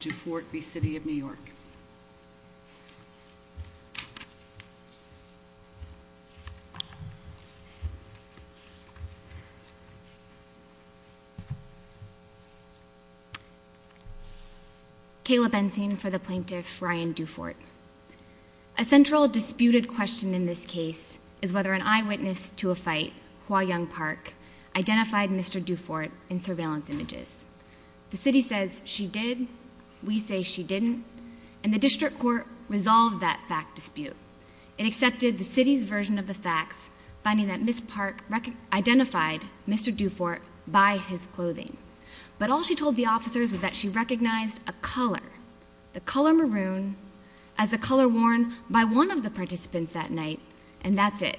Dufort v. City of New York Kayla Benzine for the plaintiff Ryan Dufort A central disputed question in this case is whether an eyewitness to a fight, Hua Young Park, identified Mr. Dufort in surveillance images. The city says she did, we say she didn't, and the district court resolved that fact dispute. It accepted the city's version of the facts, finding that Ms. Park identified Mr. Dufort by his clothing. But all she told the officers was that she recognized a color, the color maroon, as the color worn by one of the participants that night, and that's it.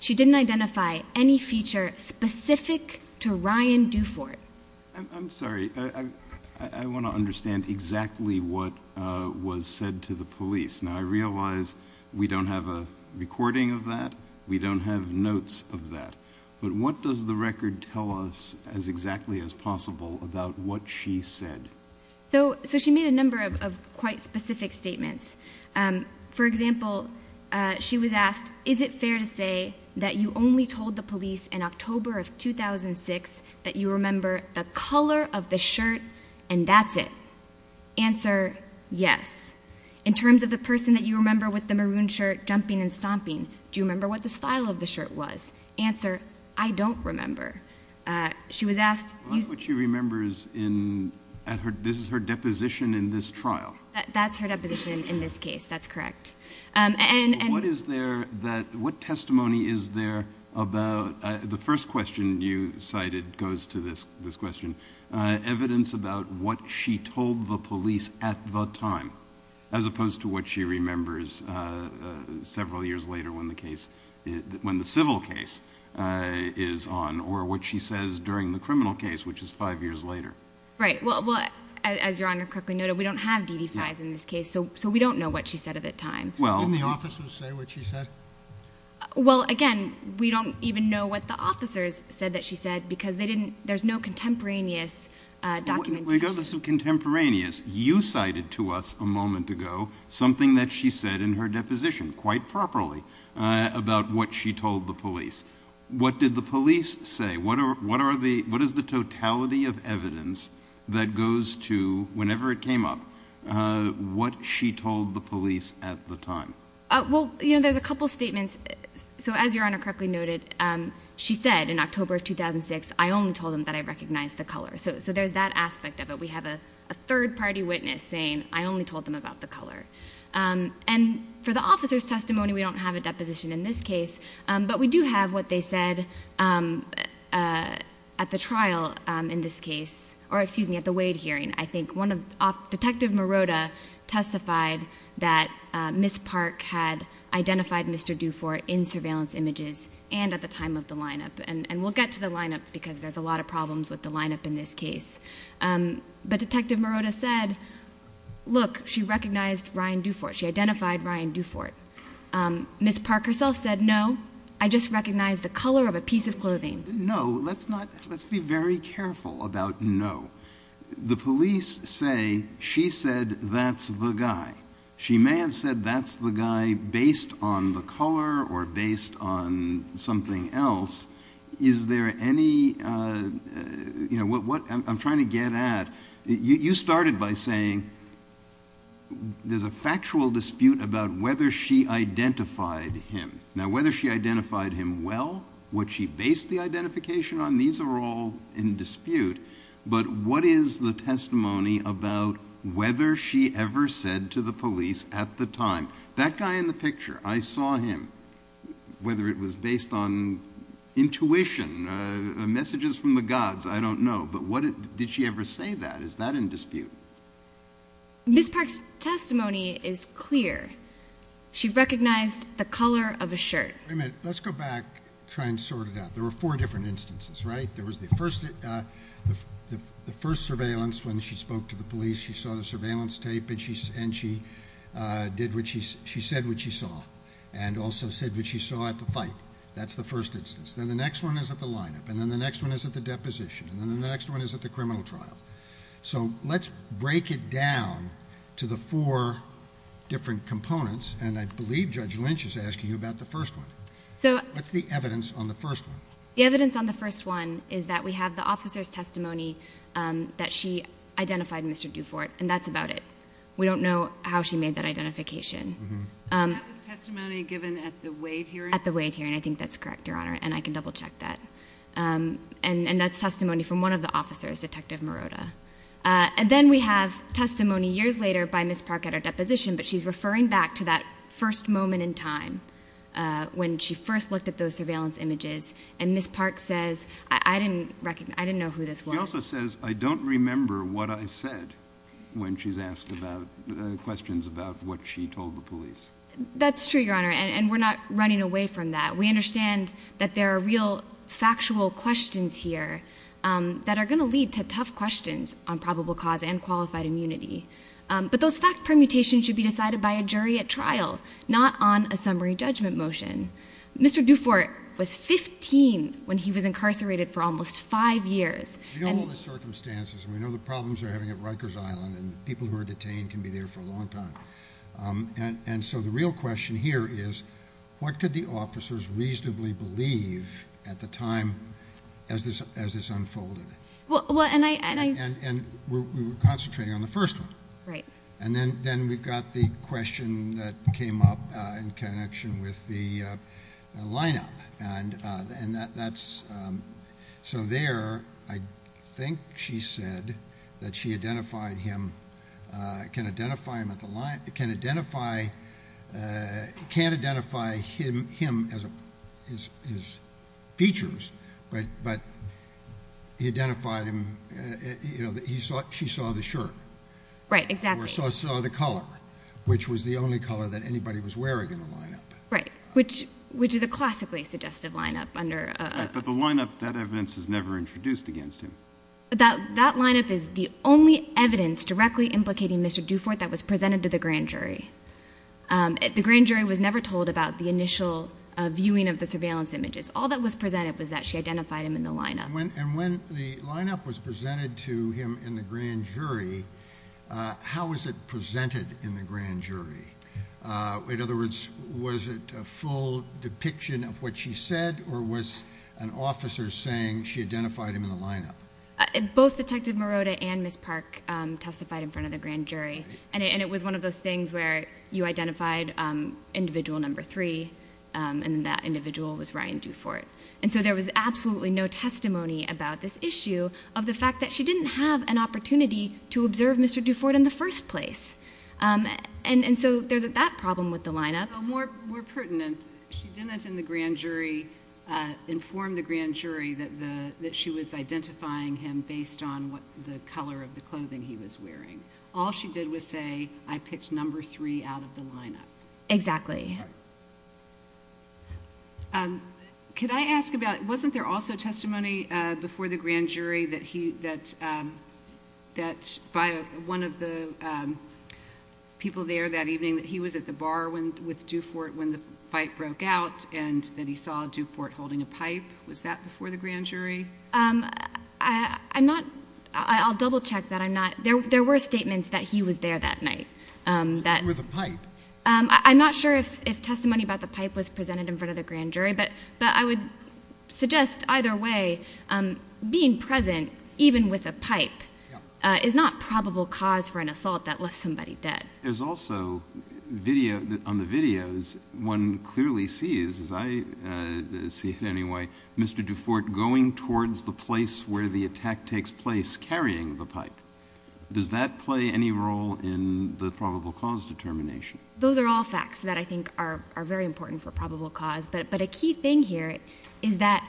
She didn't identify any feature specific to Ryan Dufort. I'm sorry, I want to understand exactly what was said to the police. Now, I realize we don't have a recording of that, we don't have notes of that, but what does the record tell us as exactly as possible about what she said? So, so she made a number of quite specific statements. For example, she was asked, is it fair to say that you only told the police in October of 2006 that you remember the color of the shirt, and that's it? Answer, yes. In terms of the person that you remember with the maroon shirt jumping and stomping, do you remember what the style of the shirt was? Answer, I don't remember. She was asked, what she remembers in, this is her deposition in this trial. That's her deposition in this case, that's correct. And, and what is there that, what testimony is there about, the first question you cited goes to this, this question. Evidence about what she told the police at the time, as opposed to what she remembers several years later when the case, when the civil case is on, or what she says during the criminal case, which is five years later. Right. Well, as your Honor correctly noted, we don't have DD-5s in this case, so, so we don't know what she said at that time. Well. Didn't the officers say what she said? Well, again, we don't even know what the officers said that she said, because they didn't, there's no contemporaneous documentation. When we go to the contemporaneous, you cited to us a moment ago something that she said in her deposition, quite properly, about what she told the police. What did the police say? What are, what are the, what is the totality of evidence that goes to, whenever it came up, what she told the police at the time? Well, you know, there's a couple statements. So, as your Honor correctly noted, she said in October of 2006, I only told them that I recognized the color. So, so there's that aspect of it. We have a third-party witness saying, I only told them about the color. And for the officer's testimony, we don't have a deposition in this case, but we do have what they said at the trial in this case, or excuse me, at the Wade hearing. I think one of, Detective Marotta testified that Ms. Park had identified Mr. Dufort in surveillance images, and at the time of the lineup, and we'll get to the lineup, because there's a lot of problems with the lineup in this case. But Detective Marotta said, look, she recognized Ryan Dufort. She identified Ryan Dufort. Ms. Park herself said, no, I just recognized the color of a piece of clothing. No, let's not, let's be very careful about no. The police say she said that's the guy. She may have said that's the guy based on the color or based on something else. Is there any, you know, what I'm trying to get at, you started by saying there's a factual dispute about whether she identified him. Now, whether she identified him well, what she based the identification on, these are all in dispute. But what is the testimony about whether she ever said to the police at the time, that guy in the picture, I saw him, whether it was based on intuition, messages from the gods, I don't know. But what, did she ever say that? Is that in dispute? Ms. Park's testimony is clear. She recognized the color of a shirt. Let's go back, try and sort it out. There were four different instances, right? There was the first, the first surveillance when she spoke to the police, she saw the surveillance tape and she did what she, she said what she saw and also said what she saw at the fight. That's the first instance. Then the next one is at the lineup. And then the next one is at the deposition. And then the next one is at the criminal trial. So let's break it down to the four different components. And I believe Judge Lynch is asking you about the first one. What's the evidence on the first one? The evidence on the first one is that we have the officer's testimony that she identified Mr. Dufort. And that's about it. We don't know how she made that identification. At the Wade hearing, I think that's correct, Your Honor, and I can double-check that. And that's testimony from one of the officers, Detective Morota. And then we have testimony years later by Ms. Park at our deposition, but she's referring back to that first moment in time when she first looked at those surveillance images. And Ms. Park says, I didn't recognize, I didn't know who this was. She also says, I don't remember what I said when she's asked about questions about what she told the police. That's true, Your Honor, and we're not running away from that. We understand that there are real factual questions here that are going to lead to tough questions on probable cause and qualified immunity. But those fact permutations should be decided by a jury at trial, not on a summary judgment motion. Mr. Dufort was 15 when he was incarcerated for almost five years. We know all the circumstances, and we know the problems they're having at Rikers Island, and people who are detained can be there for a long time. And so the real question here is, what could the officers reasonably believe at the time as this unfolded? And we're concentrating on the first one. Right. And then we've got the question that came up in connection with the lineup, and that's so there, I think she said that she identified him, can identify him at the line, can identify, can't identify him as his features, but he identified him, you know, that he saw, she saw the shirt. Right, exactly. Or saw the color, which was the only color that anybody was wearing in the lineup. Right, which is a classically suggestive lineup under... But the lineup, that evidence is never introduced against him. That lineup is the only evidence directly implicating Mr. Dufort that was presented to the grand jury. The grand jury was never told about the initial viewing of the surveillance images. All that was presented was that she identified him in the lineup. And when the lineup was presented to him in the grand jury, how was it presented in the grand jury? In other words, was it a full depiction of what she said, or was an officer saying she identified him in the lineup? Both Detective Morota and Ms. Park testified in front of the grand jury. And it was one of those things where you identified individual number three, and that individual was Ryan Dufort. And so there was absolutely no testimony about this issue of the fact that she didn't have an opportunity to observe Mr. Dufort in the first place. And so there's that problem with the lineup. More pertinent, she didn't in the grand jury inform the grand jury that the, that she was identifying him based on what the color of the clothing he was wearing. All she did was say, I picked number three out of the lineup. Exactly. Could I ask about, wasn't there also testimony before the grand jury that he, that, that, by one of the people there that evening, that he was at the bar with Dufort when the fight broke out, and that he saw Dufort holding a pipe? Was that before the grand jury? I'm not, I'll double check that I'm not, there were statements that he was there that night. That he was with a pipe. I'm not sure if, if testimony about the pipe was presented in front of the grand jury, but, but I would suggest either way, being present, even with a pipe, is not probable cause for an assault that left somebody dead. There's also video on the videos, one clearly sees, as I see it anyway, Mr. Dufort going towards the place where the attack takes place carrying the pipe. Does that play any role in the probable cause determination? Those are all facts that I think are, are very important for probable cause. But, but a key thing here is that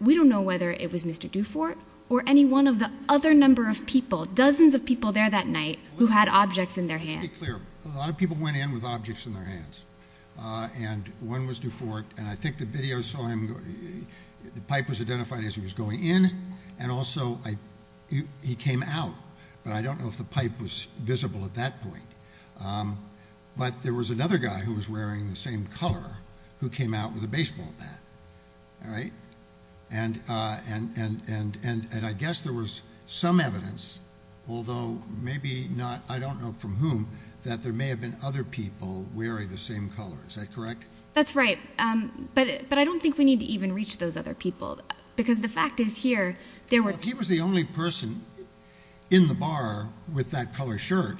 we don't know whether it was Mr. Dufort or any one of the other number of people, dozens of people there that night, who had objects in their hands. Let's be clear, a lot of people went in with objects in their hands. And one was Dufort, and I think the video saw him, the pipe was identified as he was going in. And also, he came out, but I don't know if the pipe was visible at that point. But there was another guy who was wearing the same color who came out with a baseball bat, all right? And, and, and, and, and, and I guess there was some evidence, although maybe not, I don't know from whom, that there may have been other people wearing the same color. Is that correct? That's right. But, but I don't think we need to even reach those other people, because the fact is here, If he was the only person in the bar with that color shirt,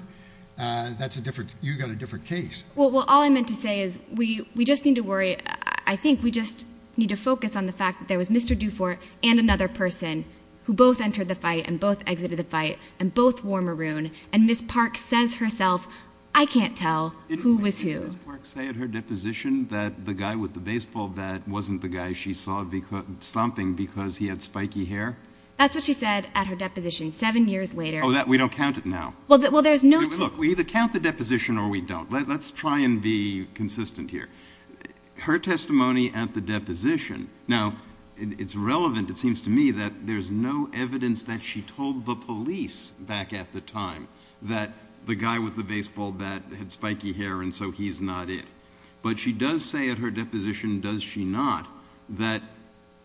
that's a different, you got a different case. Well, well, all I meant to say is we, we just need to worry. I think we just need to focus on the fact that there was Mr. Dufort and another person who both entered the fight and both exited the fight and both wore maroon. And Ms. Park says herself, I can't tell who was who. Didn't Ms. Park say in her deposition that the guy with the baseball bat wasn't the guy she saw stomping because he had spiky hair? That's what she said at her deposition seven years later. Oh, that, we don't count it now. Well, there's no... Look, we either count the deposition or we don't. Let's try and be consistent here. Her testimony at the deposition, now it's relevant, it seems to me that there's no evidence that she told the police back at the time that the guy with the baseball bat had spiky hair and so he's not it. But she does say at her deposition, does she not, that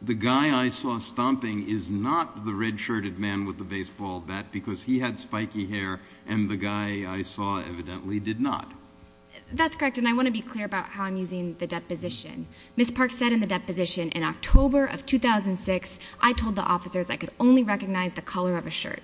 the guy I saw stomping is not the red-shirted man with the baseball bat because he had spiky hair and the guy I saw evidently did not. That's correct. And I want to be clear about how I'm using the deposition. Ms. Park said in the deposition in October of 2006, I told the officers I could only recognize the color of a shirt.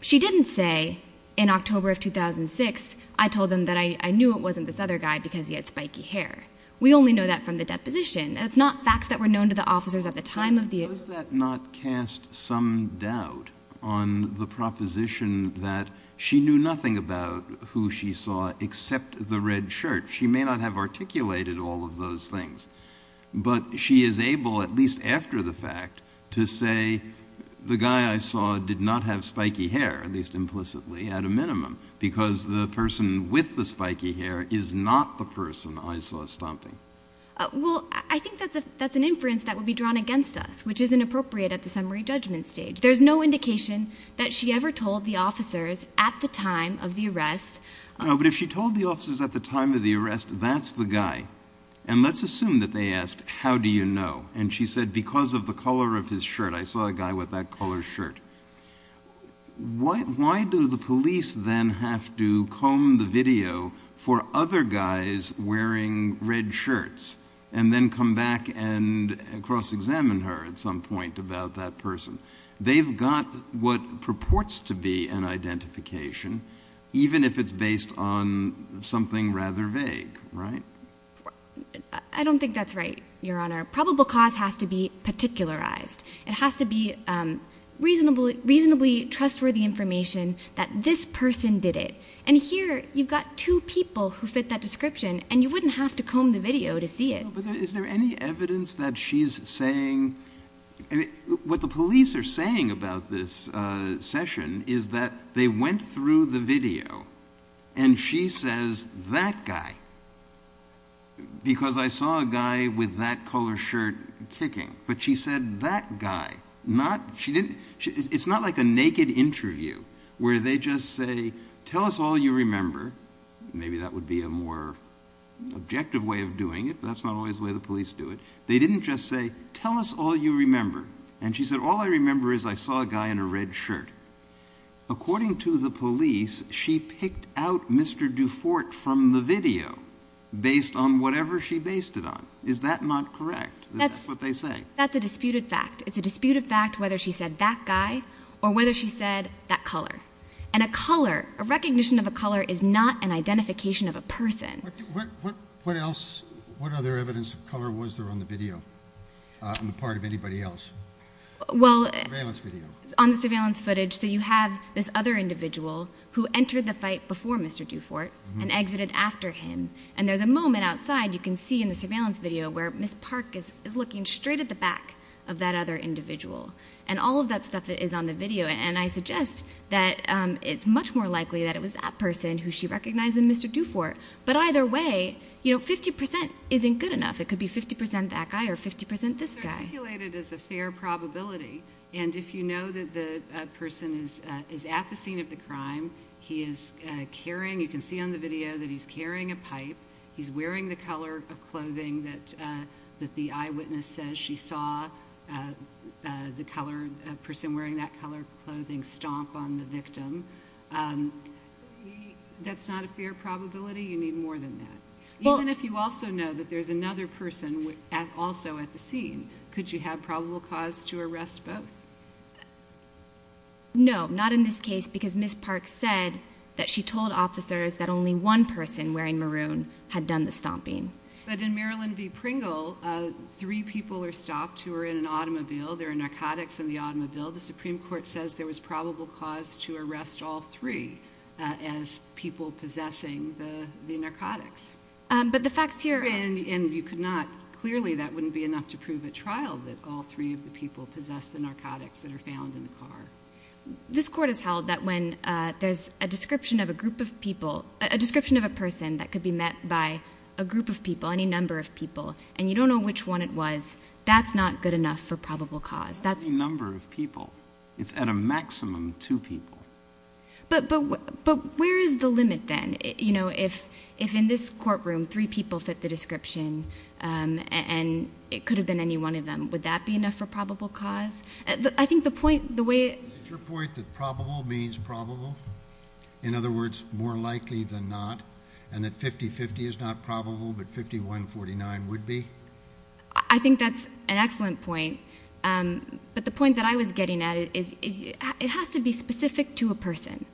She didn't say in October of 2006, I told them that I knew it wasn't this other guy because he had spiky hair. We only know that from the deposition. It's not facts that were known to the officers at the time of the... Does that not cast some doubt on the proposition that she knew nothing about who she saw except the red shirt. She may not have articulated all of those things, but she is able, at least after the fact, to say the guy I saw did not have spiky hair, at least implicitly, at a minimum, because the person with the spiky hair is not the person I saw stomping. Well, I think that's an inference that would be drawn against us, which isn't appropriate at the summary judgment stage. There's no indication that she ever told the officers at the time of the arrest. But if she told the officers at the time of the arrest, that's the guy. And let's assume that they asked, how do you know? And she said, because of the color of his shirt. I saw a guy with that color shirt. Why do the police then have to comb the video for other guys wearing red shirts and then come back and cross-examine her at some point about that person? They've got what purports to be an identification, even if it's based on something rather vague, right? I don't think that's right, Your Honor. Probable cause has to be particularized. It has to be reasonably trustworthy information that this person did it. And here, you've got two people who fit that description, and you wouldn't have to comb the video to see it. No, but is there any evidence that she's saying... What the police are saying about this session is that they went through the video, and she says, that guy, because I saw a guy with that color shirt kicking. But she said, that guy. It's not like a naked interview where they just say, tell us all you remember. Maybe that would be a more objective way of doing it, but that's not always the way the police do it. They didn't just say, tell us all you remember. And she said, all I remember is I saw a guy in a red shirt. According to the police, she picked out Mr. Dufort from the video based on whatever she based it on. Is that not correct? That's what they say. That's a disputed fact. It's a disputed fact whether she said, that guy, or whether she said, that color. And a color, a recognition of a color is not an identification of a person. What else? What other evidence of color was there on the video, on the part of anybody else? Well... On the surveillance footage. So you have this other individual who entered the fight before Mr. Dufort and exited after him. And there's a moment outside, you can see in the surveillance video, where Ms. Park is looking straight at the back of that other individual. And all of that stuff is on the video. And I suggest that it's much more likely that it was that person who she recognized as Mr. Dufort. But either way, you know, 50% isn't good enough. It could be 50% that guy or 50% this guy. It's articulated as a fair probability. And if you know that the person is at the scene of the crime, he is carrying, you can see on the video, that he's carrying a pipe. He's wearing the color of clothing that the eyewitness says she saw the person wearing that color clothing stomp on the victim. That's not a fair probability. You need more than that. Even if you also know that there's another person also at the scene, could you have probable cause to arrest both? No, not in this case. Because Ms. Park said that she told officers that only one person wearing maroon had done the stomping. But in Maryland v. Pringle, three people are stopped who are in an automobile. There are narcotics in the automobile. The Supreme Court says there was probable cause to arrest all three as people possessing the narcotics. But the facts here... And you could not... Clearly, that wouldn't be enough to prove at trial that all three of the people possess the narcotics that are found in the car. This court has held that when there's a description of a group of people, a description of a person that could be met by a group of people, any number of people, and you don't know which one it was, that's not good enough for probable cause. That's... Any number of people. It's at a maximum two people. But where is the limit then? If in this courtroom, three people fit the description and it could have been any one of them, would that be enough for probable cause? I think the point, the way... Is it your point that probable means probable? In other words, more likely than not? And that 50-50 is not probable, but 51-49 would be? I think that's an excellent point. But the point that I was getting at is it has to be specific to a person.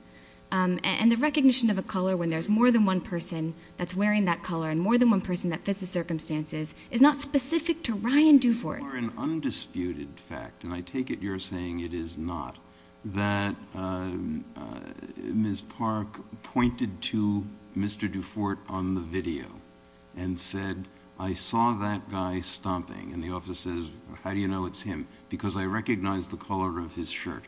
And the recognition of a color when there's more than one person that's wearing that color and more than one person that fits the circumstances is not specific to Ryan Duvort. For an undisputed fact, and I take it you're saying it is not, that Ms. Park pointed to Mr. Dufort on the video and said, I saw that guy stomping. And the officer says, how do you know it's him? Because I recognize the color of his shirt.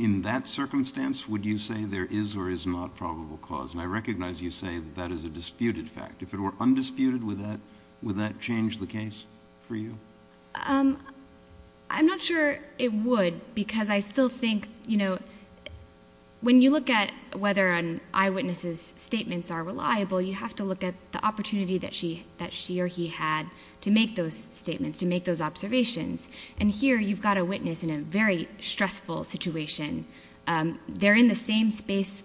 In that circumstance, would you say there is or is not probable cause? And I recognize you say that that is a disputed fact. If it were undisputed, would that change the case for you? Um, I'm not sure it would, because I still think, you know, when you look at whether an eyewitness's statements are reliable, you have to look at the opportunity that she or he had to make those statements, to make those observations. And here you've got a witness in a very stressful situation. They're in the same space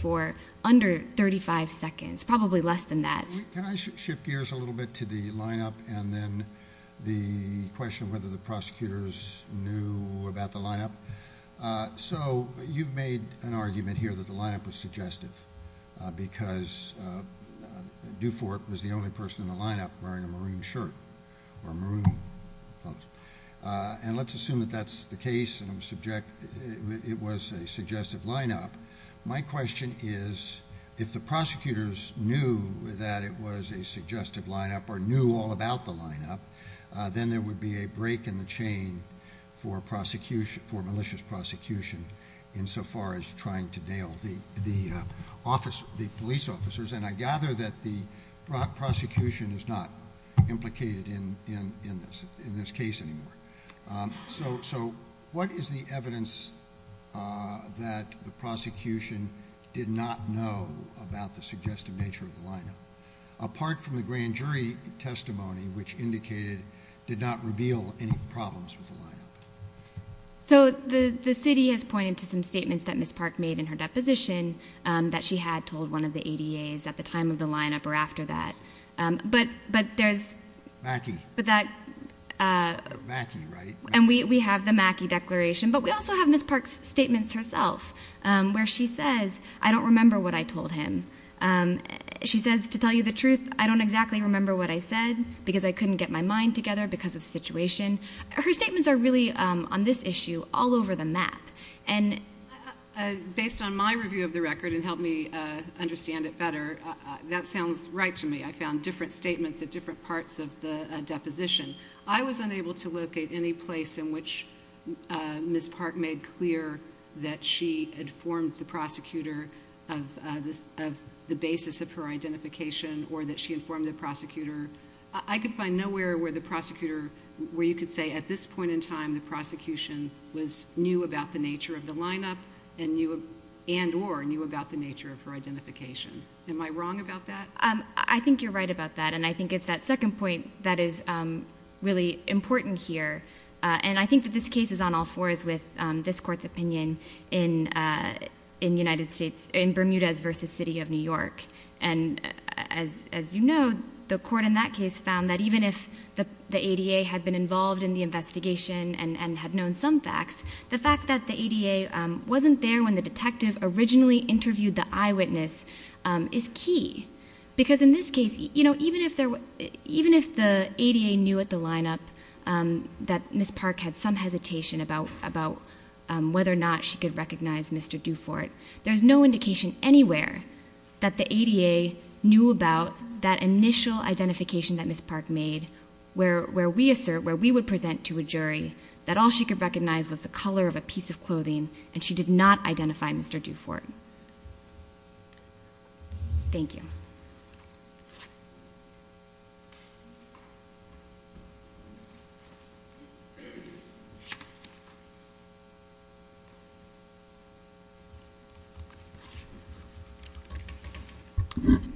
for under 35 seconds, probably less than that. Can I shift gears a little bit to the lineup and then the question of whether the prosecutors knew about the lineup? So you've made an argument here that the lineup was suggestive because Dufort was the only person in the lineup wearing a maroon shirt or maroon clothes. And let's assume that that's the case and it was a suggestive lineup. My question is, if the prosecutors knew that it was a suggestive lineup, or knew all about the lineup, then there would be a break in the chain for malicious prosecution insofar as trying to nail the police officers. And I gather that the prosecution is not implicated in this case anymore. So what is the evidence that the prosecution did not know about the suggestive nature of the lineup, apart from the grand jury testimony, which indicated, did not reveal any problems with the lineup? So the city has pointed to some statements that Ms. Park made in her deposition that she had told one of the ADAs at the time of the lineup or after that. But there's... Mackie. But that... Mackie, right? And we have the Mackie declaration. But we also have Ms. Park's statements herself, where she says, I don't remember what I told him. She says, to tell you the truth, I don't exactly remember what I said because I couldn't get my mind together because of the situation. Her statements are really, on this issue, all over the map. And... Based on my review of the record and help me understand it better, that sounds right to me. I found different statements at different parts of the deposition. I was unable to locate any place in which Ms. Park made clear that she informed the prosecutor of the basis of her identification or that she informed the prosecutor. I could find nowhere where the prosecutor... Where you could say, at this point in time, the prosecution knew about the nature of the lineup and or knew about the nature of her identification. Am I wrong about that? I think you're right about that. I think it's that second point that is really important here. And I think that this case is on all fours with this court's opinion in the United States, in Bermudez versus City of New York. And as you know, the court in that case found that even if the ADA had been involved in the investigation and had known some facts, the fact that the ADA wasn't there when the detective originally interviewed the eyewitness is key. Because in this case, even if the ADA knew at the lineup that Ms. Park had some hesitation about whether or not she could recognize Mr. Dufort, there's no indication anywhere that the ADA knew about that initial identification that Ms. Park made where we assert, where we would present to a jury that all she could recognize was the color of a piece of clothing and she did not identify Mr. Dufort. Thank you.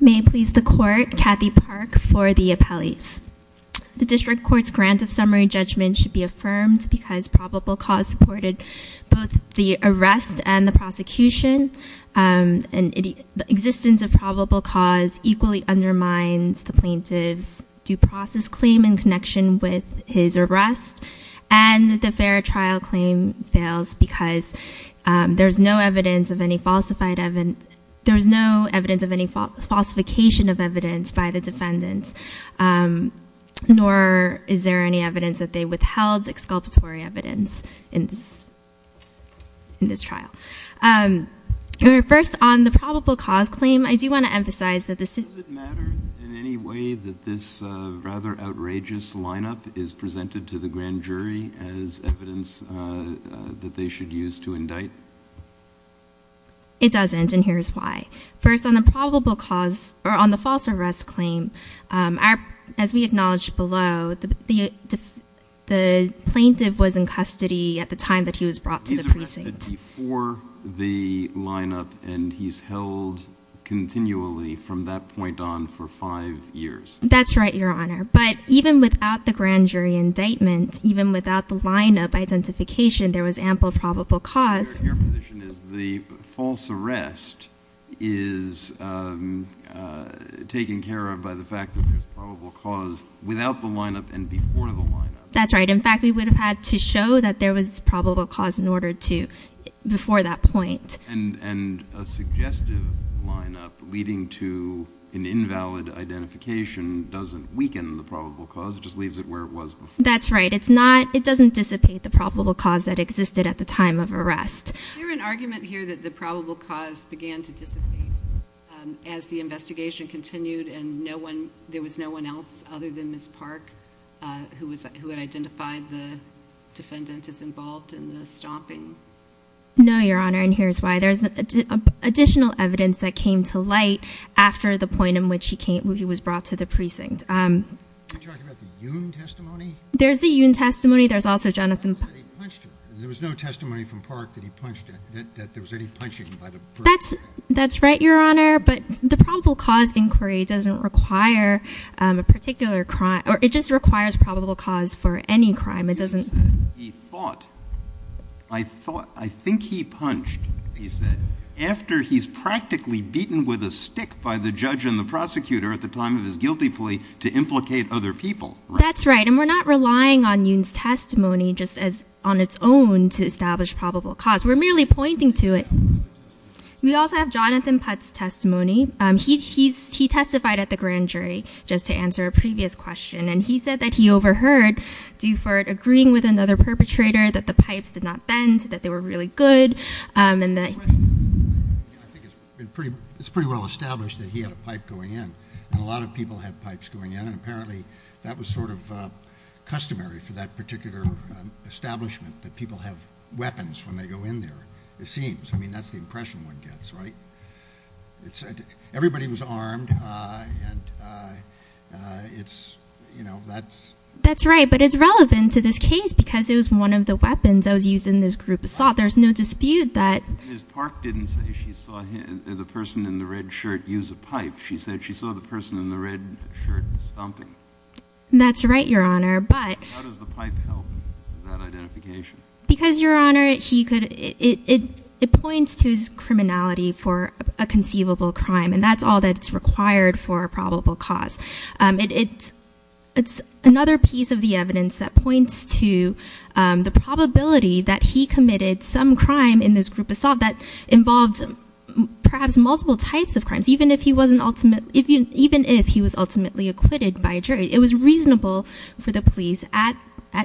May it please the court, Kathy Park for the appellees. The district court's grant of summary judgment should be affirmed and the prosecution and the existence of probable cause equally undermines the plaintiff's due process claim in connection with his arrest and the fair trial claim fails because there's no evidence of any falsified evidence, there's no evidence of any falsification of evidence by the defendants, nor is there any evidence that they withheld exculpatory evidence in this trial. First, on the probable cause claim, I do want to emphasize that this... Does it matter in any way that this rather outrageous lineup is presented to the grand jury as evidence that they should use to indict? It doesn't and here's why. First, on the probable cause or on the false arrest claim, our... As we acknowledged below, the plaintiff was in custody at the time that he was brought to the precinct. Before the lineup and he's held continually from that point on for five years. That's right, your honor. But even without the grand jury indictment, even without the lineup identification, there was ample probable cause. The false arrest is taken care of by the fact that there's probable cause without the lineup and before the lineup. That's right. In fact, we would have had to show that there was probable cause in order to... Before that point. And a suggestive lineup leading to an invalid identification doesn't weaken the probable cause, just leaves it where it was before. That's right. It doesn't dissipate the probable cause that existed at the time of arrest. Is there an argument here that the probable cause began to dissipate as the investigation continued and there was no one else other than Ms. Park who had identified the defendant as involved in the stomping? No, your honor. And here's why. There's additional evidence that came to light after the point in which he was brought to the precinct. You're talking about the Yoon testimony? There's the Yoon testimony. There's also Jonathan... That he punched her. There was no testimony from Park that he punched her, that there was any punching by the person. That's right, your honor. But the probable cause inquiry doesn't require a particular crime, or it just requires probable cause for any crime. It doesn't... He thought, I think he punched, he said, after he's practically beaten with a stick by the judge and the prosecutor at the time of his guilty plea to implicate other people. That's right. We're not relying on Yoon's testimony just as on its own to establish probable cause. We're merely pointing to it. We also have Jonathan Putt's testimony. He testified at the grand jury just to answer a previous question and he said that he overheard Duford agreeing with another perpetrator that the pipes did not bend, that they were really good and that... It's pretty well established that he had a pipe going in and a lot of people had pipes going in and apparently that was sort of customary for that particular establishment that people have weapons when they go in there, it seems. I mean, that's the impression one gets, right? Everybody was armed and it's, you know, that's... That's right, but it's relevant to this case because it was one of the weapons that was used in this group assault. There's no dispute that... Ms. Park didn't say she saw the person in the red shirt use a pipe. She said she saw the person in the red shirt stomping. That's right, Your Honour, but... How does the pipe help that identification? Because, Your Honour, it points to his criminality for a conceivable crime and that's all that's required for a probable cause. It's another piece of the evidence that points to the probability that he committed some crime in this group assault that involved perhaps multiple types of crimes, even if he was ultimately acquitted by a jury. It was reasonable for the police at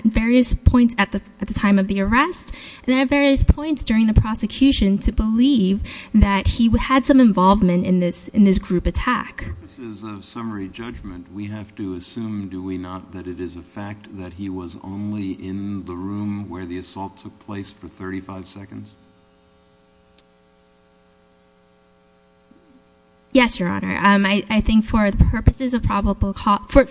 various points at the time of the arrest and at various points during the prosecution to believe that he had some involvement in this group attack. For purposes of summary judgment, we have to assume, do we not, that it is a fact that he was only in the room where the assault took place for 35 seconds? Yes, Your Honour. I think for purposes of probable cause... For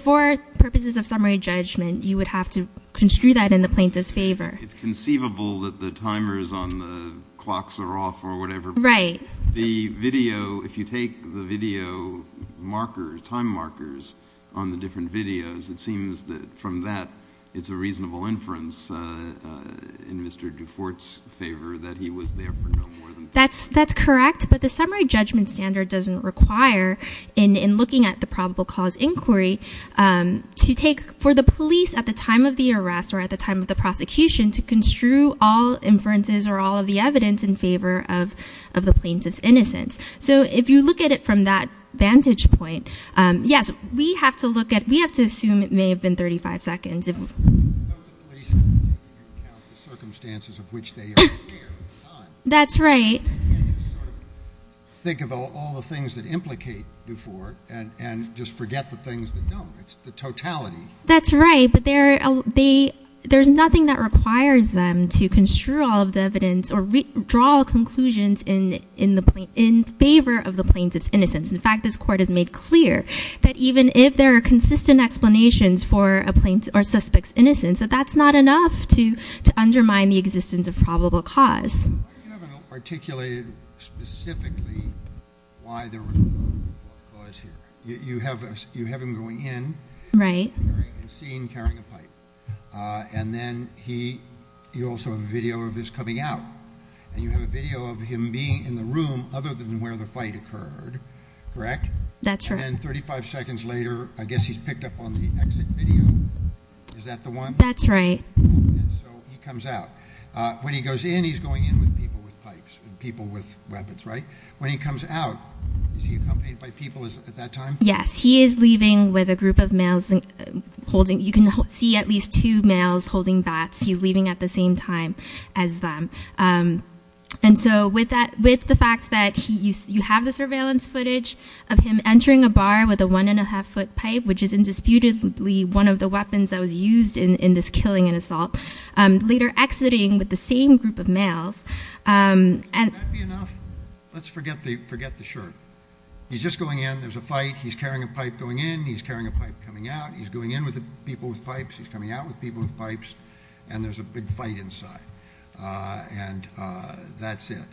purposes of summary judgment, you would have to construe that in the plaintiff's favour. It's conceivable that the timers on the clocks are off or whatever. Right. The video, if you take the video markers, time markers on the different videos, it seems that from that, it's a reasonable inference in Mr. Dufort's favour that he was there for no more than... That's correct, but the summary judgment standard doesn't require, in looking at the probable cause inquiry, to take, for the police at the time of the arrest or at the time of the prosecution, to construe all inferences or all of the evidence in favour of the plaintiff's innocence. So if you look at it from that vantage point, yes, we have to look at... We have to assume it may have been 35 seconds. Without the police, you can't count the circumstances of which they are here at the time. That's right. You can't just sort of think about all the things that implicate Dufort and just forget the things that don't. It's the totality. That's right, but there's nothing that requires them to construe all of the evidence or draw conclusions in favour of the plaintiff's innocence. In fact, this court has made clear that even if there are consistent explanations for a plaintiff or suspect's innocence, that's not enough to undermine the existence of probable cause. You haven't articulated specifically why there was a buzz here. You have him going in... Right. ...and seen carrying a pipe. And then you also have a video of his coming out. And you have a video of him being in the room other than where the fight occurred, correct? That's right. And then 35 seconds later, I guess he's picked up on the exit video. Is that the one? That's right. And so he comes out. When he goes in, he's going in with people with pipes and people with weapons, right? When he comes out, is he accompanied by people at that time? Yes, he is leaving with a group of males holding... You can see at least two males holding bats. He's leaving at the same time as them. And so with the fact that you have the surveillance footage of him entering a bar with a one-and-a-half-foot pipe, which is indisputably one of the weapons that was used in this killing and assault, later exiting with the same group of males... Would that be enough? Let's forget the shirt. He's just going in. There's a fight. He's carrying a pipe going in. He's carrying a pipe coming out. He's going in with the people with pipes. He's coming out with people with pipes. And there's a big fight inside. And that's it.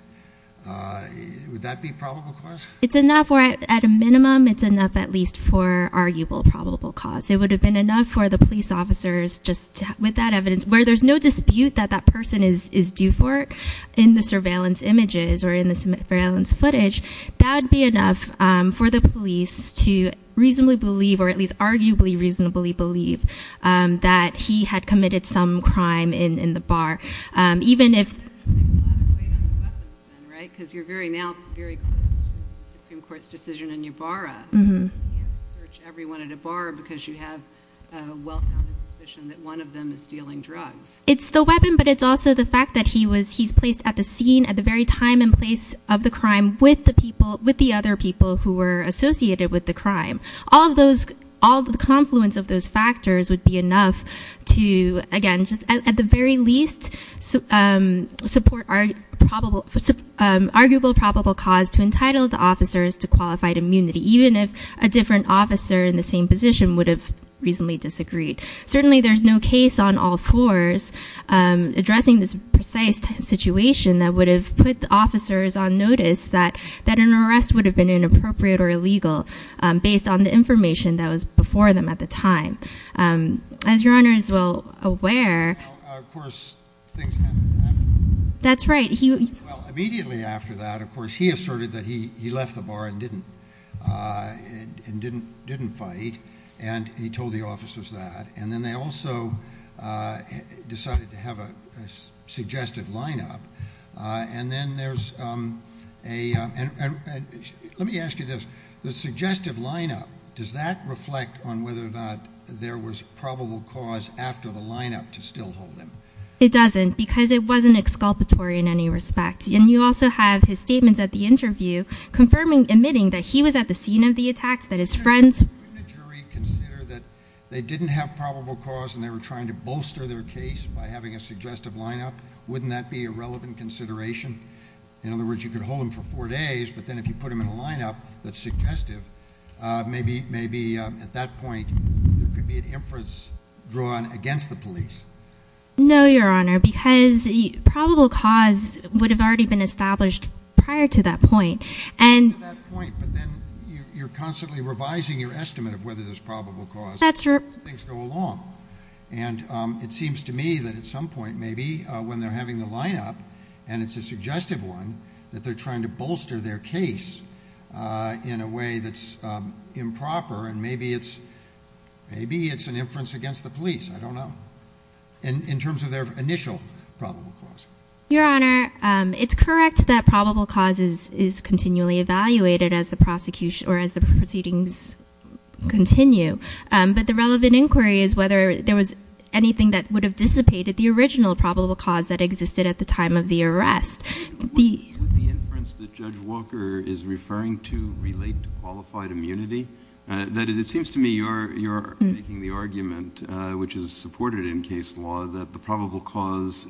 Would that be probable cause? It's enough where at a minimum, it's enough at least for arguable probable cause. It would have been enough for the police officers just with that evidence, where there's no dispute that that person is due for in the surveillance images or in the surveillance footage. That would be enough for the police to reasonably believe, or at least arguably reasonably believe, that he had committed some crime in the bar. Even if... That's going to be a lot of weight on the weapons then, right? Because you're very now, very close to the Supreme Court's decision in Ybarra. You can't search everyone at a bar because you have a well-founded suspicion that one of them is stealing drugs. It's the weapon, but it's also the fact that he was, he's placed at the scene at the very time and place of the crime with the people, with the other people who were associated with the crime. All of those, all the confluence of those factors would be enough to, again, just at the very least, support arguable probable cause to entitle the officers to qualified immunity. Even if a different officer in the same position would have reasonably disagreed. Certainly, there's no case on all fours addressing this precise situation that would have put the officers on notice that an arrest would have been inappropriate or illegal based on the information that was before them at the time. As Your Honor is well aware... Now, of course, things happened after. That's right. Well, immediately after that, of course, he asserted that he left the bar and didn't. And didn't fight. And he told the officers that. And then they also decided to have a suggestive lineup. And then there's a... Let me ask you this. The suggestive lineup, does that reflect on whether or not there was probable cause after the lineup to still hold him? It doesn't because it wasn't exculpatory in any respect. And you also have his statements at the interview admitting that he was at the scene of the attack, that his friends... Wouldn't a jury consider that they didn't have probable cause and they were trying to bolster their case by having a suggestive lineup? Wouldn't that be a relevant consideration? In other words, you could hold him for four days, but then if you put him in a lineup that's suggestive, maybe at that point, there could be an inference drawn against the police. No, Your Honor, because probable cause would have already been established prior to that point. But then you're constantly revising your estimate of whether there's probable cause as things go along. And it seems to me that at some point, maybe when they're having the lineup and it's a suggestive one, that they're trying to bolster their case in a way that's improper. And maybe it's an inference against the police. I don't know, in terms of their initial probable cause. Your Honor, it's correct that probable causes is continually evaluated as the proceedings continue. But the relevant inquiry is whether there was anything that would have dissipated the original probable cause that existed at the time of the arrest. With the inference that Judge Walker is referring to relate to qualified immunity? That is, it seems to me you're making the argument, which is supported in case law, that the probable cause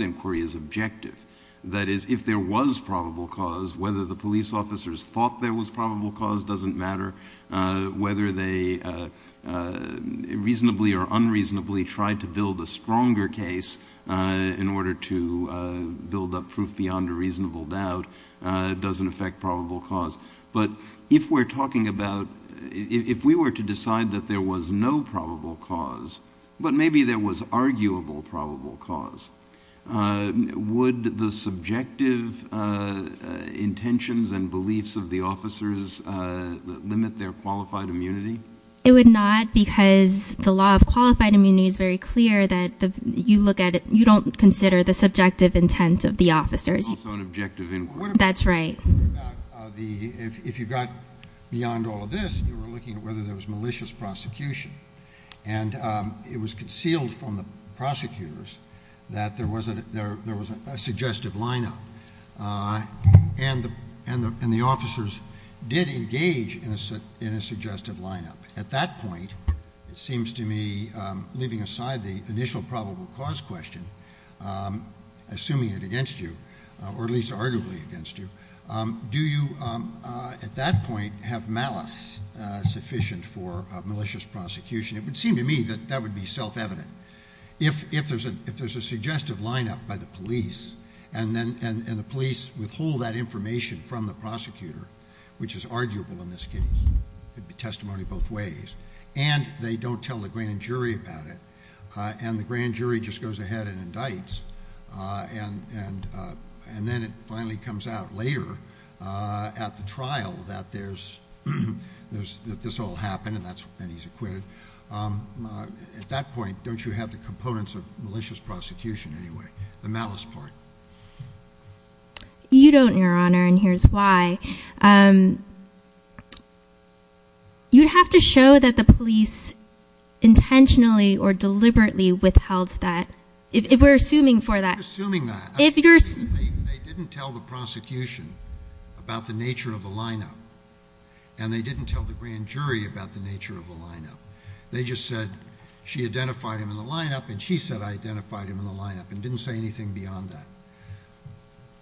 inquiry is objective. That is, if there was probable cause, whether the police officers thought there was probable cause doesn't matter. Whether they reasonably or unreasonably tried to build a stronger case in order to build up proof beyond a reasonable doubt doesn't affect probable cause. But if we're talking about, if we were to decide that there was no probable cause, but maybe there was arguable probable cause, would the subjective intentions and beliefs of the officers limit their qualified immunity? It would not because the law of qualified immunity is very clear that you look at it, you don't consider the subjective intent of the officers. It's also an objective inquiry. That's right. If you got beyond all of this, you were looking at whether there was malicious prosecution. And it was concealed from the prosecutors that there was a suggestive lineup and the officers did engage in a suggestive lineup. At that point, it seems to me, leaving aside the initial probable cause question, assuming it against you, or at least arguably against you, do you, at that point, have malice sufficient for malicious prosecution? It would seem to me that that would be self-evident. If there's a suggestive lineup by the police and the police withhold that information from the prosecutor, which is arguable in this case, it'd be testimony both ways. And they don't tell the grand jury about it. And the grand jury just goes ahead and indicts. And then it finally comes out later at the trial that this all happened, and he's acquitted. At that point, don't you have the components of malicious prosecution anyway, the malice part? You don't, Your Honor, and here's why. You'd have to show that the police intentionally or deliberately withheld that, if we're assuming for that. If you're assuming that, they didn't tell the prosecution about the nature of the lineup, and they didn't tell the grand jury about the nature of the lineup. They just said, she identified him in the lineup, and she said, I identified him in the lineup, and didn't say anything beyond that.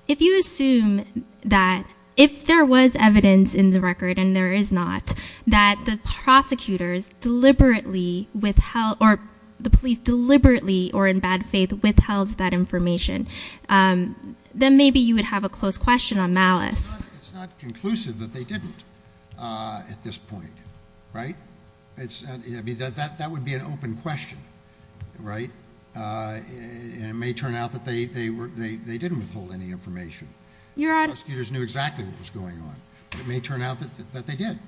If you assume that, if there was evidence in the record, and there is not, that the prosecutors deliberately withheld, or the police deliberately, or in bad faith, withheld that information, then maybe you would have a close question on malice. It's not conclusive that they didn't, at this point, right? It's, I mean, that would be an open question, right? And it may turn out that they didn't withhold any information. Your Honor. Prosecutors knew exactly what was going on, but it may turn out that they did.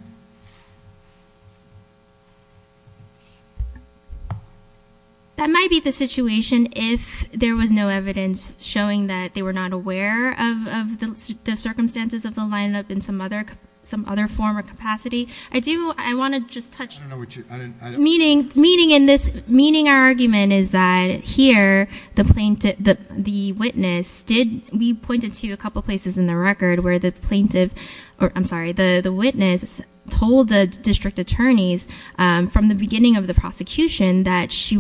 That might be the situation if there was no evidence showing that they were not aware of the circumstances of the lineup in some other form or capacity. I do, I want to just touch- I don't know what you, I don't- Meaning, in this, meaning our argument is that here, the plaintiff, the witness did, we pointed to a couple places in the record where the plaintiff, or I'm sorry, the witness told the district attorneys from the beginning of the prosecution that she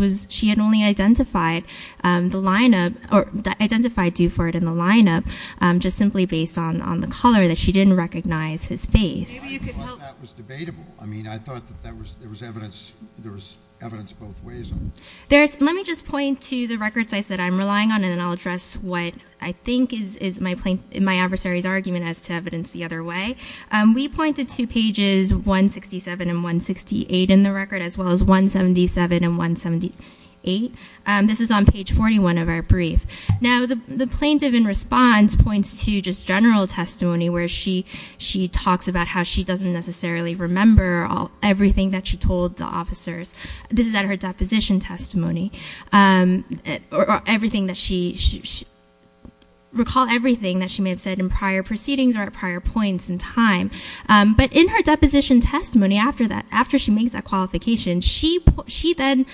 had only identified the lineup, or identified Duford in the lineup, just simply based on the color, that she didn't recognize his face. Maybe you could help- I thought that was debatable. I mean, I thought that there was evidence, there was evidence both ways. Let me just point to the record sites that I'm relying on, and then I'll address what I think is my plain, my adversary's argument as to evidence the other way. We pointed to pages 167 and 168 in the record, as well as 177 and 178. This is on page 41 of our brief. Now, the plaintiff in response points to just general testimony where she talks about how she doesn't necessarily remember everything that she told the officers. This is at her deposition testimony, or everything that she, recall everything that she may have said in prior proceedings or at prior points in time. But in her deposition testimony after that, after she makes that qualification, she then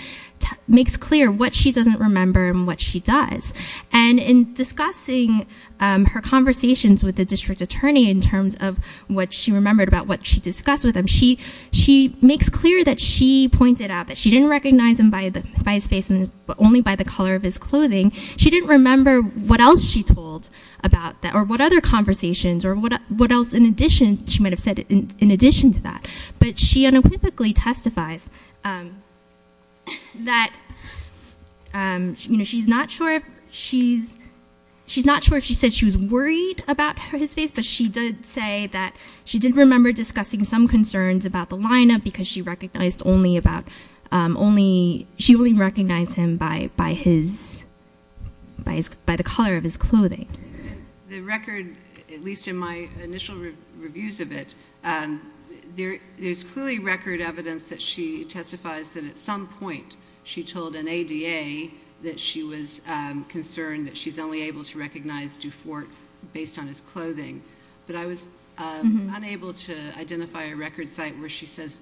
makes clear what she doesn't remember and what she does. And in discussing her conversations with the district attorney in terms of what she remembered about what she discussed with him, she makes clear that she pointed out that she didn't recognize him by his face and only by the color of his clothing. She didn't remember what else she told about that or what other conversations or what else in addition, she might've said in addition to that. But she unequivocally testifies that she's not sure if she said she was worried about his face, but she did say that she did remember discussing some concerns about the lineup because she only recognized him by the color of his clothing. The record, at least in my initial reviews of it, there's clearly record evidence that she testifies that at some point she told an ADA that she was concerned that she's only able to recognize Dufort based on his clothing. But I was unable to identify a record site where she says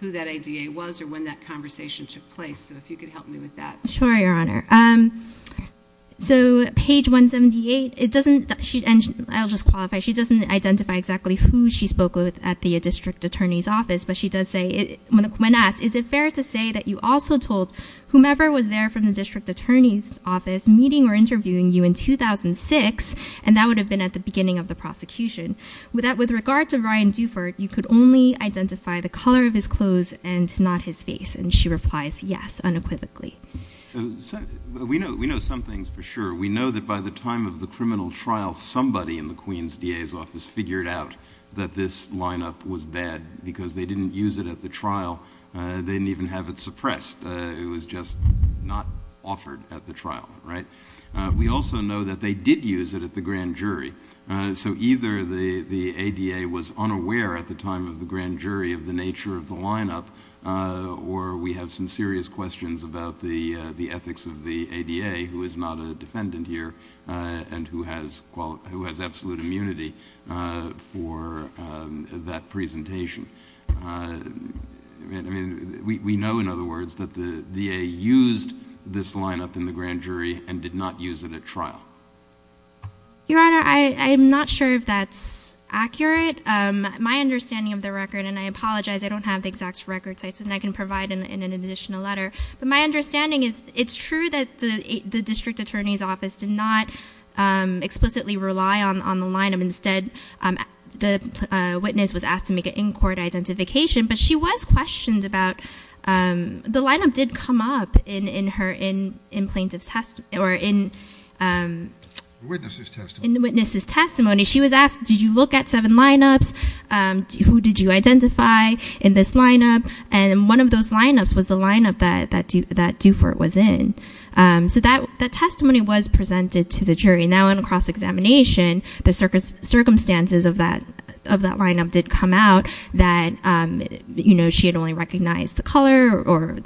who that ADA was or when that conversation took place. So if you could help me with that. Sure, Your Honor. So page 178, I'll just qualify. She doesn't identify exactly who she spoke with at the district attorney's office, but she does say, when asked, is it fair to say that you also told whomever was there from the district attorney's office meeting or interviewing you in 2006, and that would have been at the beginning of the prosecution, with that with regard to Ryan Dufort, you could only identify the color of his clothes and not his face. And she replies, yes, unequivocally. We know some things for sure. We know that by the time of the criminal trial, somebody in the Queen's DA's office figured out that this lineup was bad because they didn't use it at the trial. They didn't even have it suppressed. It was just not offered at the trial, right? We also know that they did use it at the grand jury. So either the ADA was unaware at the time of the grand jury of the nature of the lineup, or we have some serious questions about the ethics of the ADA, who is not a defendant here and who has absolute immunity for that presentation. I mean, we know, in other words, that the DA used this lineup in the grand jury and did not use it at trial. Your Honor, I'm not sure if that's accurate. My understanding of the record, and I apologize, I don't have the exact record sites and I can provide in an additional letter, but my understanding is it's true that the district attorney's office did not explicitly rely on the lineup. Instead, the witness was asked to make an in-court identification, but she was questioned about, the lineup did come up in her in plaintiff's testimony, or in the witness's testimony. She was asked, did you look at seven lineups? Who did you identify in this lineup? And one of those lineups was the lineup that Dufort was in. So that testimony was presented to the jury. Now in a cross-examination, the circumstances of that lineup did come out that she had only recognized the color or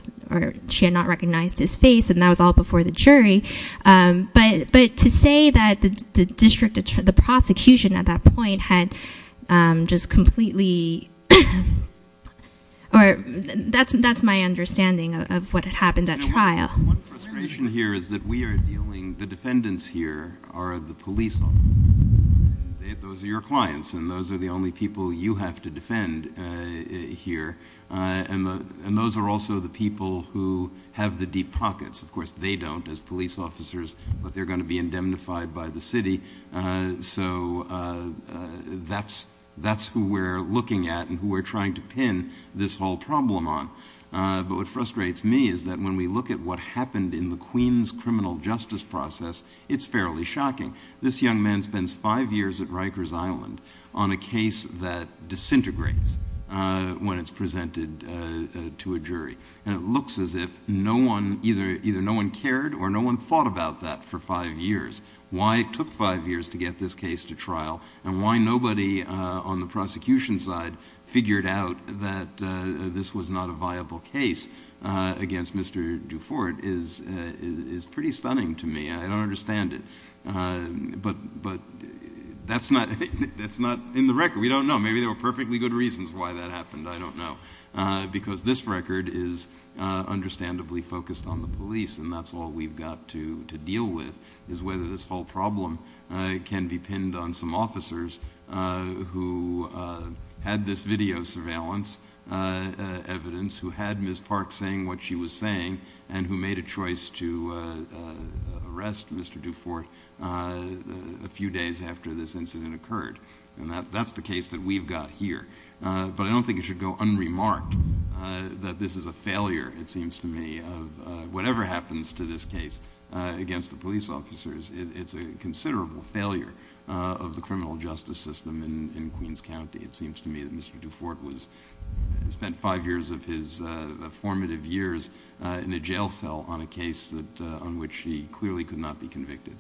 she had not recognized his face and that was all before the jury. But to say that the prosecution at that point had just completely, or that's my understanding of what had happened at trial. One frustration here is that we are dealing, the defendants here are the police. Those are your clients and those are the only people you have to defend here. And those are also the people who have the deep pockets. Of course, they don't as police officers, but they're gonna be indemnified by the city. So that's who we're looking at and who we're trying to pin this whole problem on. But what frustrates me is that when we look at what happened in the Queens criminal justice process, it's fairly shocking. This young man spends five years at Rikers Island on a case that disintegrates when it's presented to a jury. And it looks as if either no one cared or no one thought about that for five years. Why it took five years to get this case to trial and why nobody on the prosecution side figured out that this was not a viable case against Mr. Dufort is pretty stunning to me. I don't understand it. But that's not in the record, we don't know. Maybe there were perfectly good reasons why that happened, I don't know. Because this record is understandably focused on the police and that's all we've got to deal with is whether this whole problem can be pinned on some officers who had this video surveillance evidence, who had Ms. Park saying what she was saying and who made a choice to arrest Mr. Dufort a few days after this incident occurred. And that's the case that we've got here. But I don't think it should go unremarked that this is a failure, it seems to me, whatever happens to this case against the police officers, it's a considerable failure of the criminal justice system in Queens County. It seems to me that Mr. Dufort spent five years of his formative years in a jail cell on a case on which he clearly could not be convicted.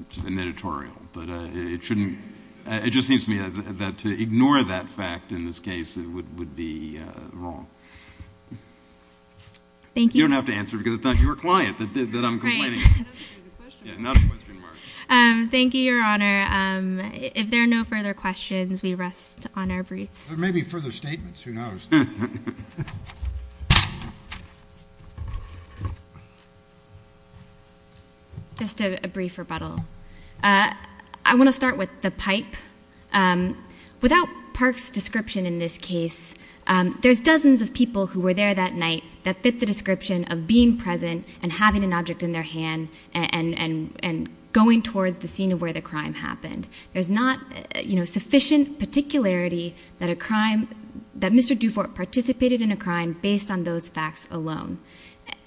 It's an editorial, but it just seems to me that to ignore that fact in this case would be wrong. Thank you. You don't have to answer because it's not your client that I'm complaining. Thank you, Your Honor. If there are no further questions, we rest on our briefs. There may be further statements, who knows. Just a brief rebuttal. I want to start with the pipe. Without Park's description in this case, there's dozens of people who were there that night that fit the description of being present and having an object in their hand and going towards the scene of where the crime happened. There's not sufficient particularity that a crime, that Mr. Dufort participated in a crime based on those facts alone.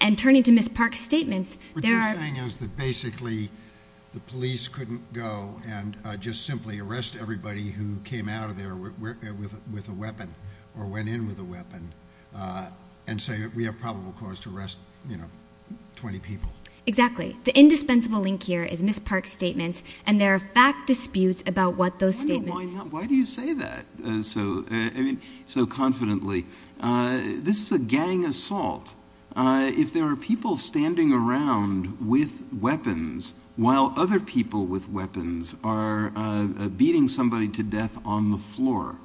And turning to Ms. Park's statements, there are... What you're saying is that basically the police couldn't go and just simply arrest everybody who came out of there with a weapon or went in with a weapon and say we have probable cause to arrest 20 people. Exactly. The indispensable link here is Ms. Park's statements and there are fact disputes about what those statements... Why do you say that so confidently? This is a gang assault. If there are people standing around with weapons while other people with weapons are beating somebody to death on the floor,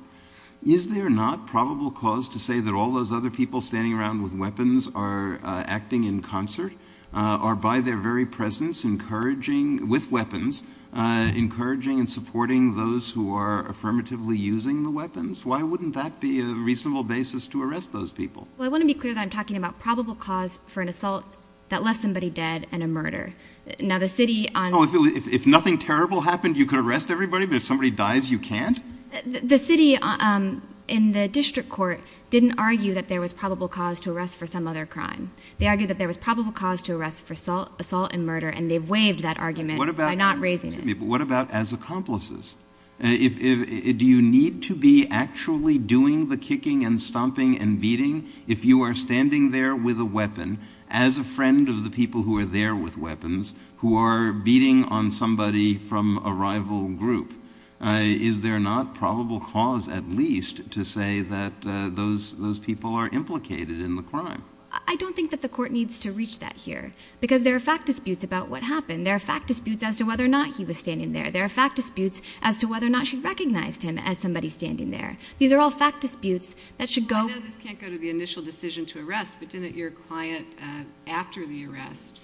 is there not probable cause to say that all those other people standing around with weapons are acting in concert or by their very presence encouraging... With weapons, encouraging and supporting those who are affirmatively using the weapons? Why wouldn't that be a reasonable basis to arrest those people? Well, I want to be clear that I'm talking about probable cause for an assault that left somebody dead and a murder. Now, the city... If nothing terrible happened, you could arrest everybody, but if somebody dies, you can't? The city in the district court didn't argue that there was probable cause to arrest for some other crime. They argued that there was probable cause to arrest for assault and murder and they've waived that argument by not raising it. What about as accomplices? Do you need to be actually doing the kicking and stomping and beating if you are standing there with a weapon as a friend of the people who are there with weapons who are beating on somebody from a rival group? Is there not probable cause, at least, to say that those people are implicated in the crime? I don't think that the court needs to reach that here because there are fact disputes about what happened. There are fact disputes as to whether or not he was standing there. There are fact disputes as to whether or not she recognized him as somebody standing there. These are all fact disputes that should go... I know this can't go to the initial decision to arrest, but didn't your client, after the arrest,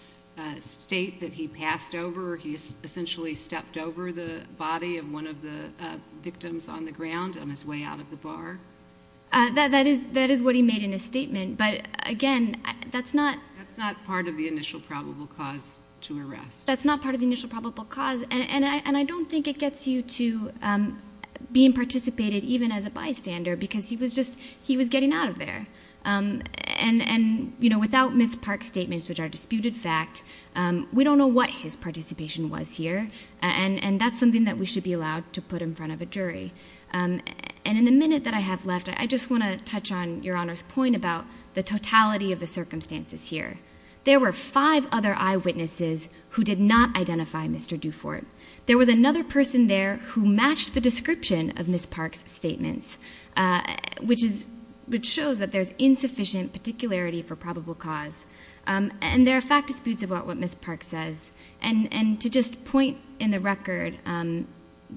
state that he passed over, he essentially stepped over the body of one of the victims on the ground on his way out of the bar? That is what he made in his statement, but again, that's not... That's not part of the initial probable cause to arrest. That's not part of the initial probable cause and I don't think it gets you to being participated, even as a bystander, because he was getting out of there. And without Ms. Park's statements, which are disputed fact, we don't know what his participation was here and that's something that we should be allowed to put in front of a jury. And in the minute that I have left, I just want to touch on Your Honor's point about the totality of the circumstances here. There were five other eyewitnesses who did not identify Mr. Dufort. There was another person there who matched the description of Ms. Park's statements, which shows that there's insufficient particularity for probable cause. And there are fact disputes about what Ms. Park says. And to just point in the record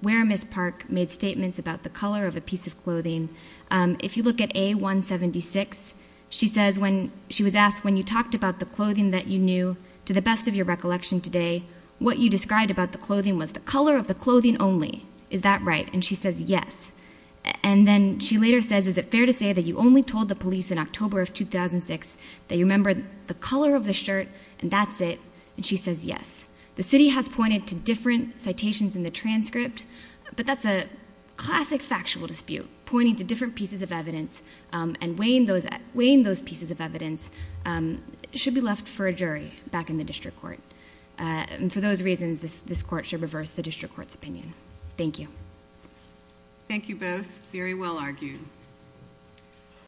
where Ms. Park made statements about the colour of a piece of clothing, if you look at A176, she was asked, when you talked about the clothing that you knew, to the best of your recollection today, what you described about the clothing was the colour of the clothing only. Is that right? And she says, yes. And then she later says, is it fair to say that you only told the police in October of 2006 that you remember the colour of the shirt and that's it? And she says, yes. The city has pointed to different citations in the transcript, but that's a classic factual dispute, pointing to different pieces of evidence and weighing those pieces of evidence should be left for a jury back in the district court. And for those reasons, this court should reverse the district court's opinion. Thank you. Thank you both. Very well argued.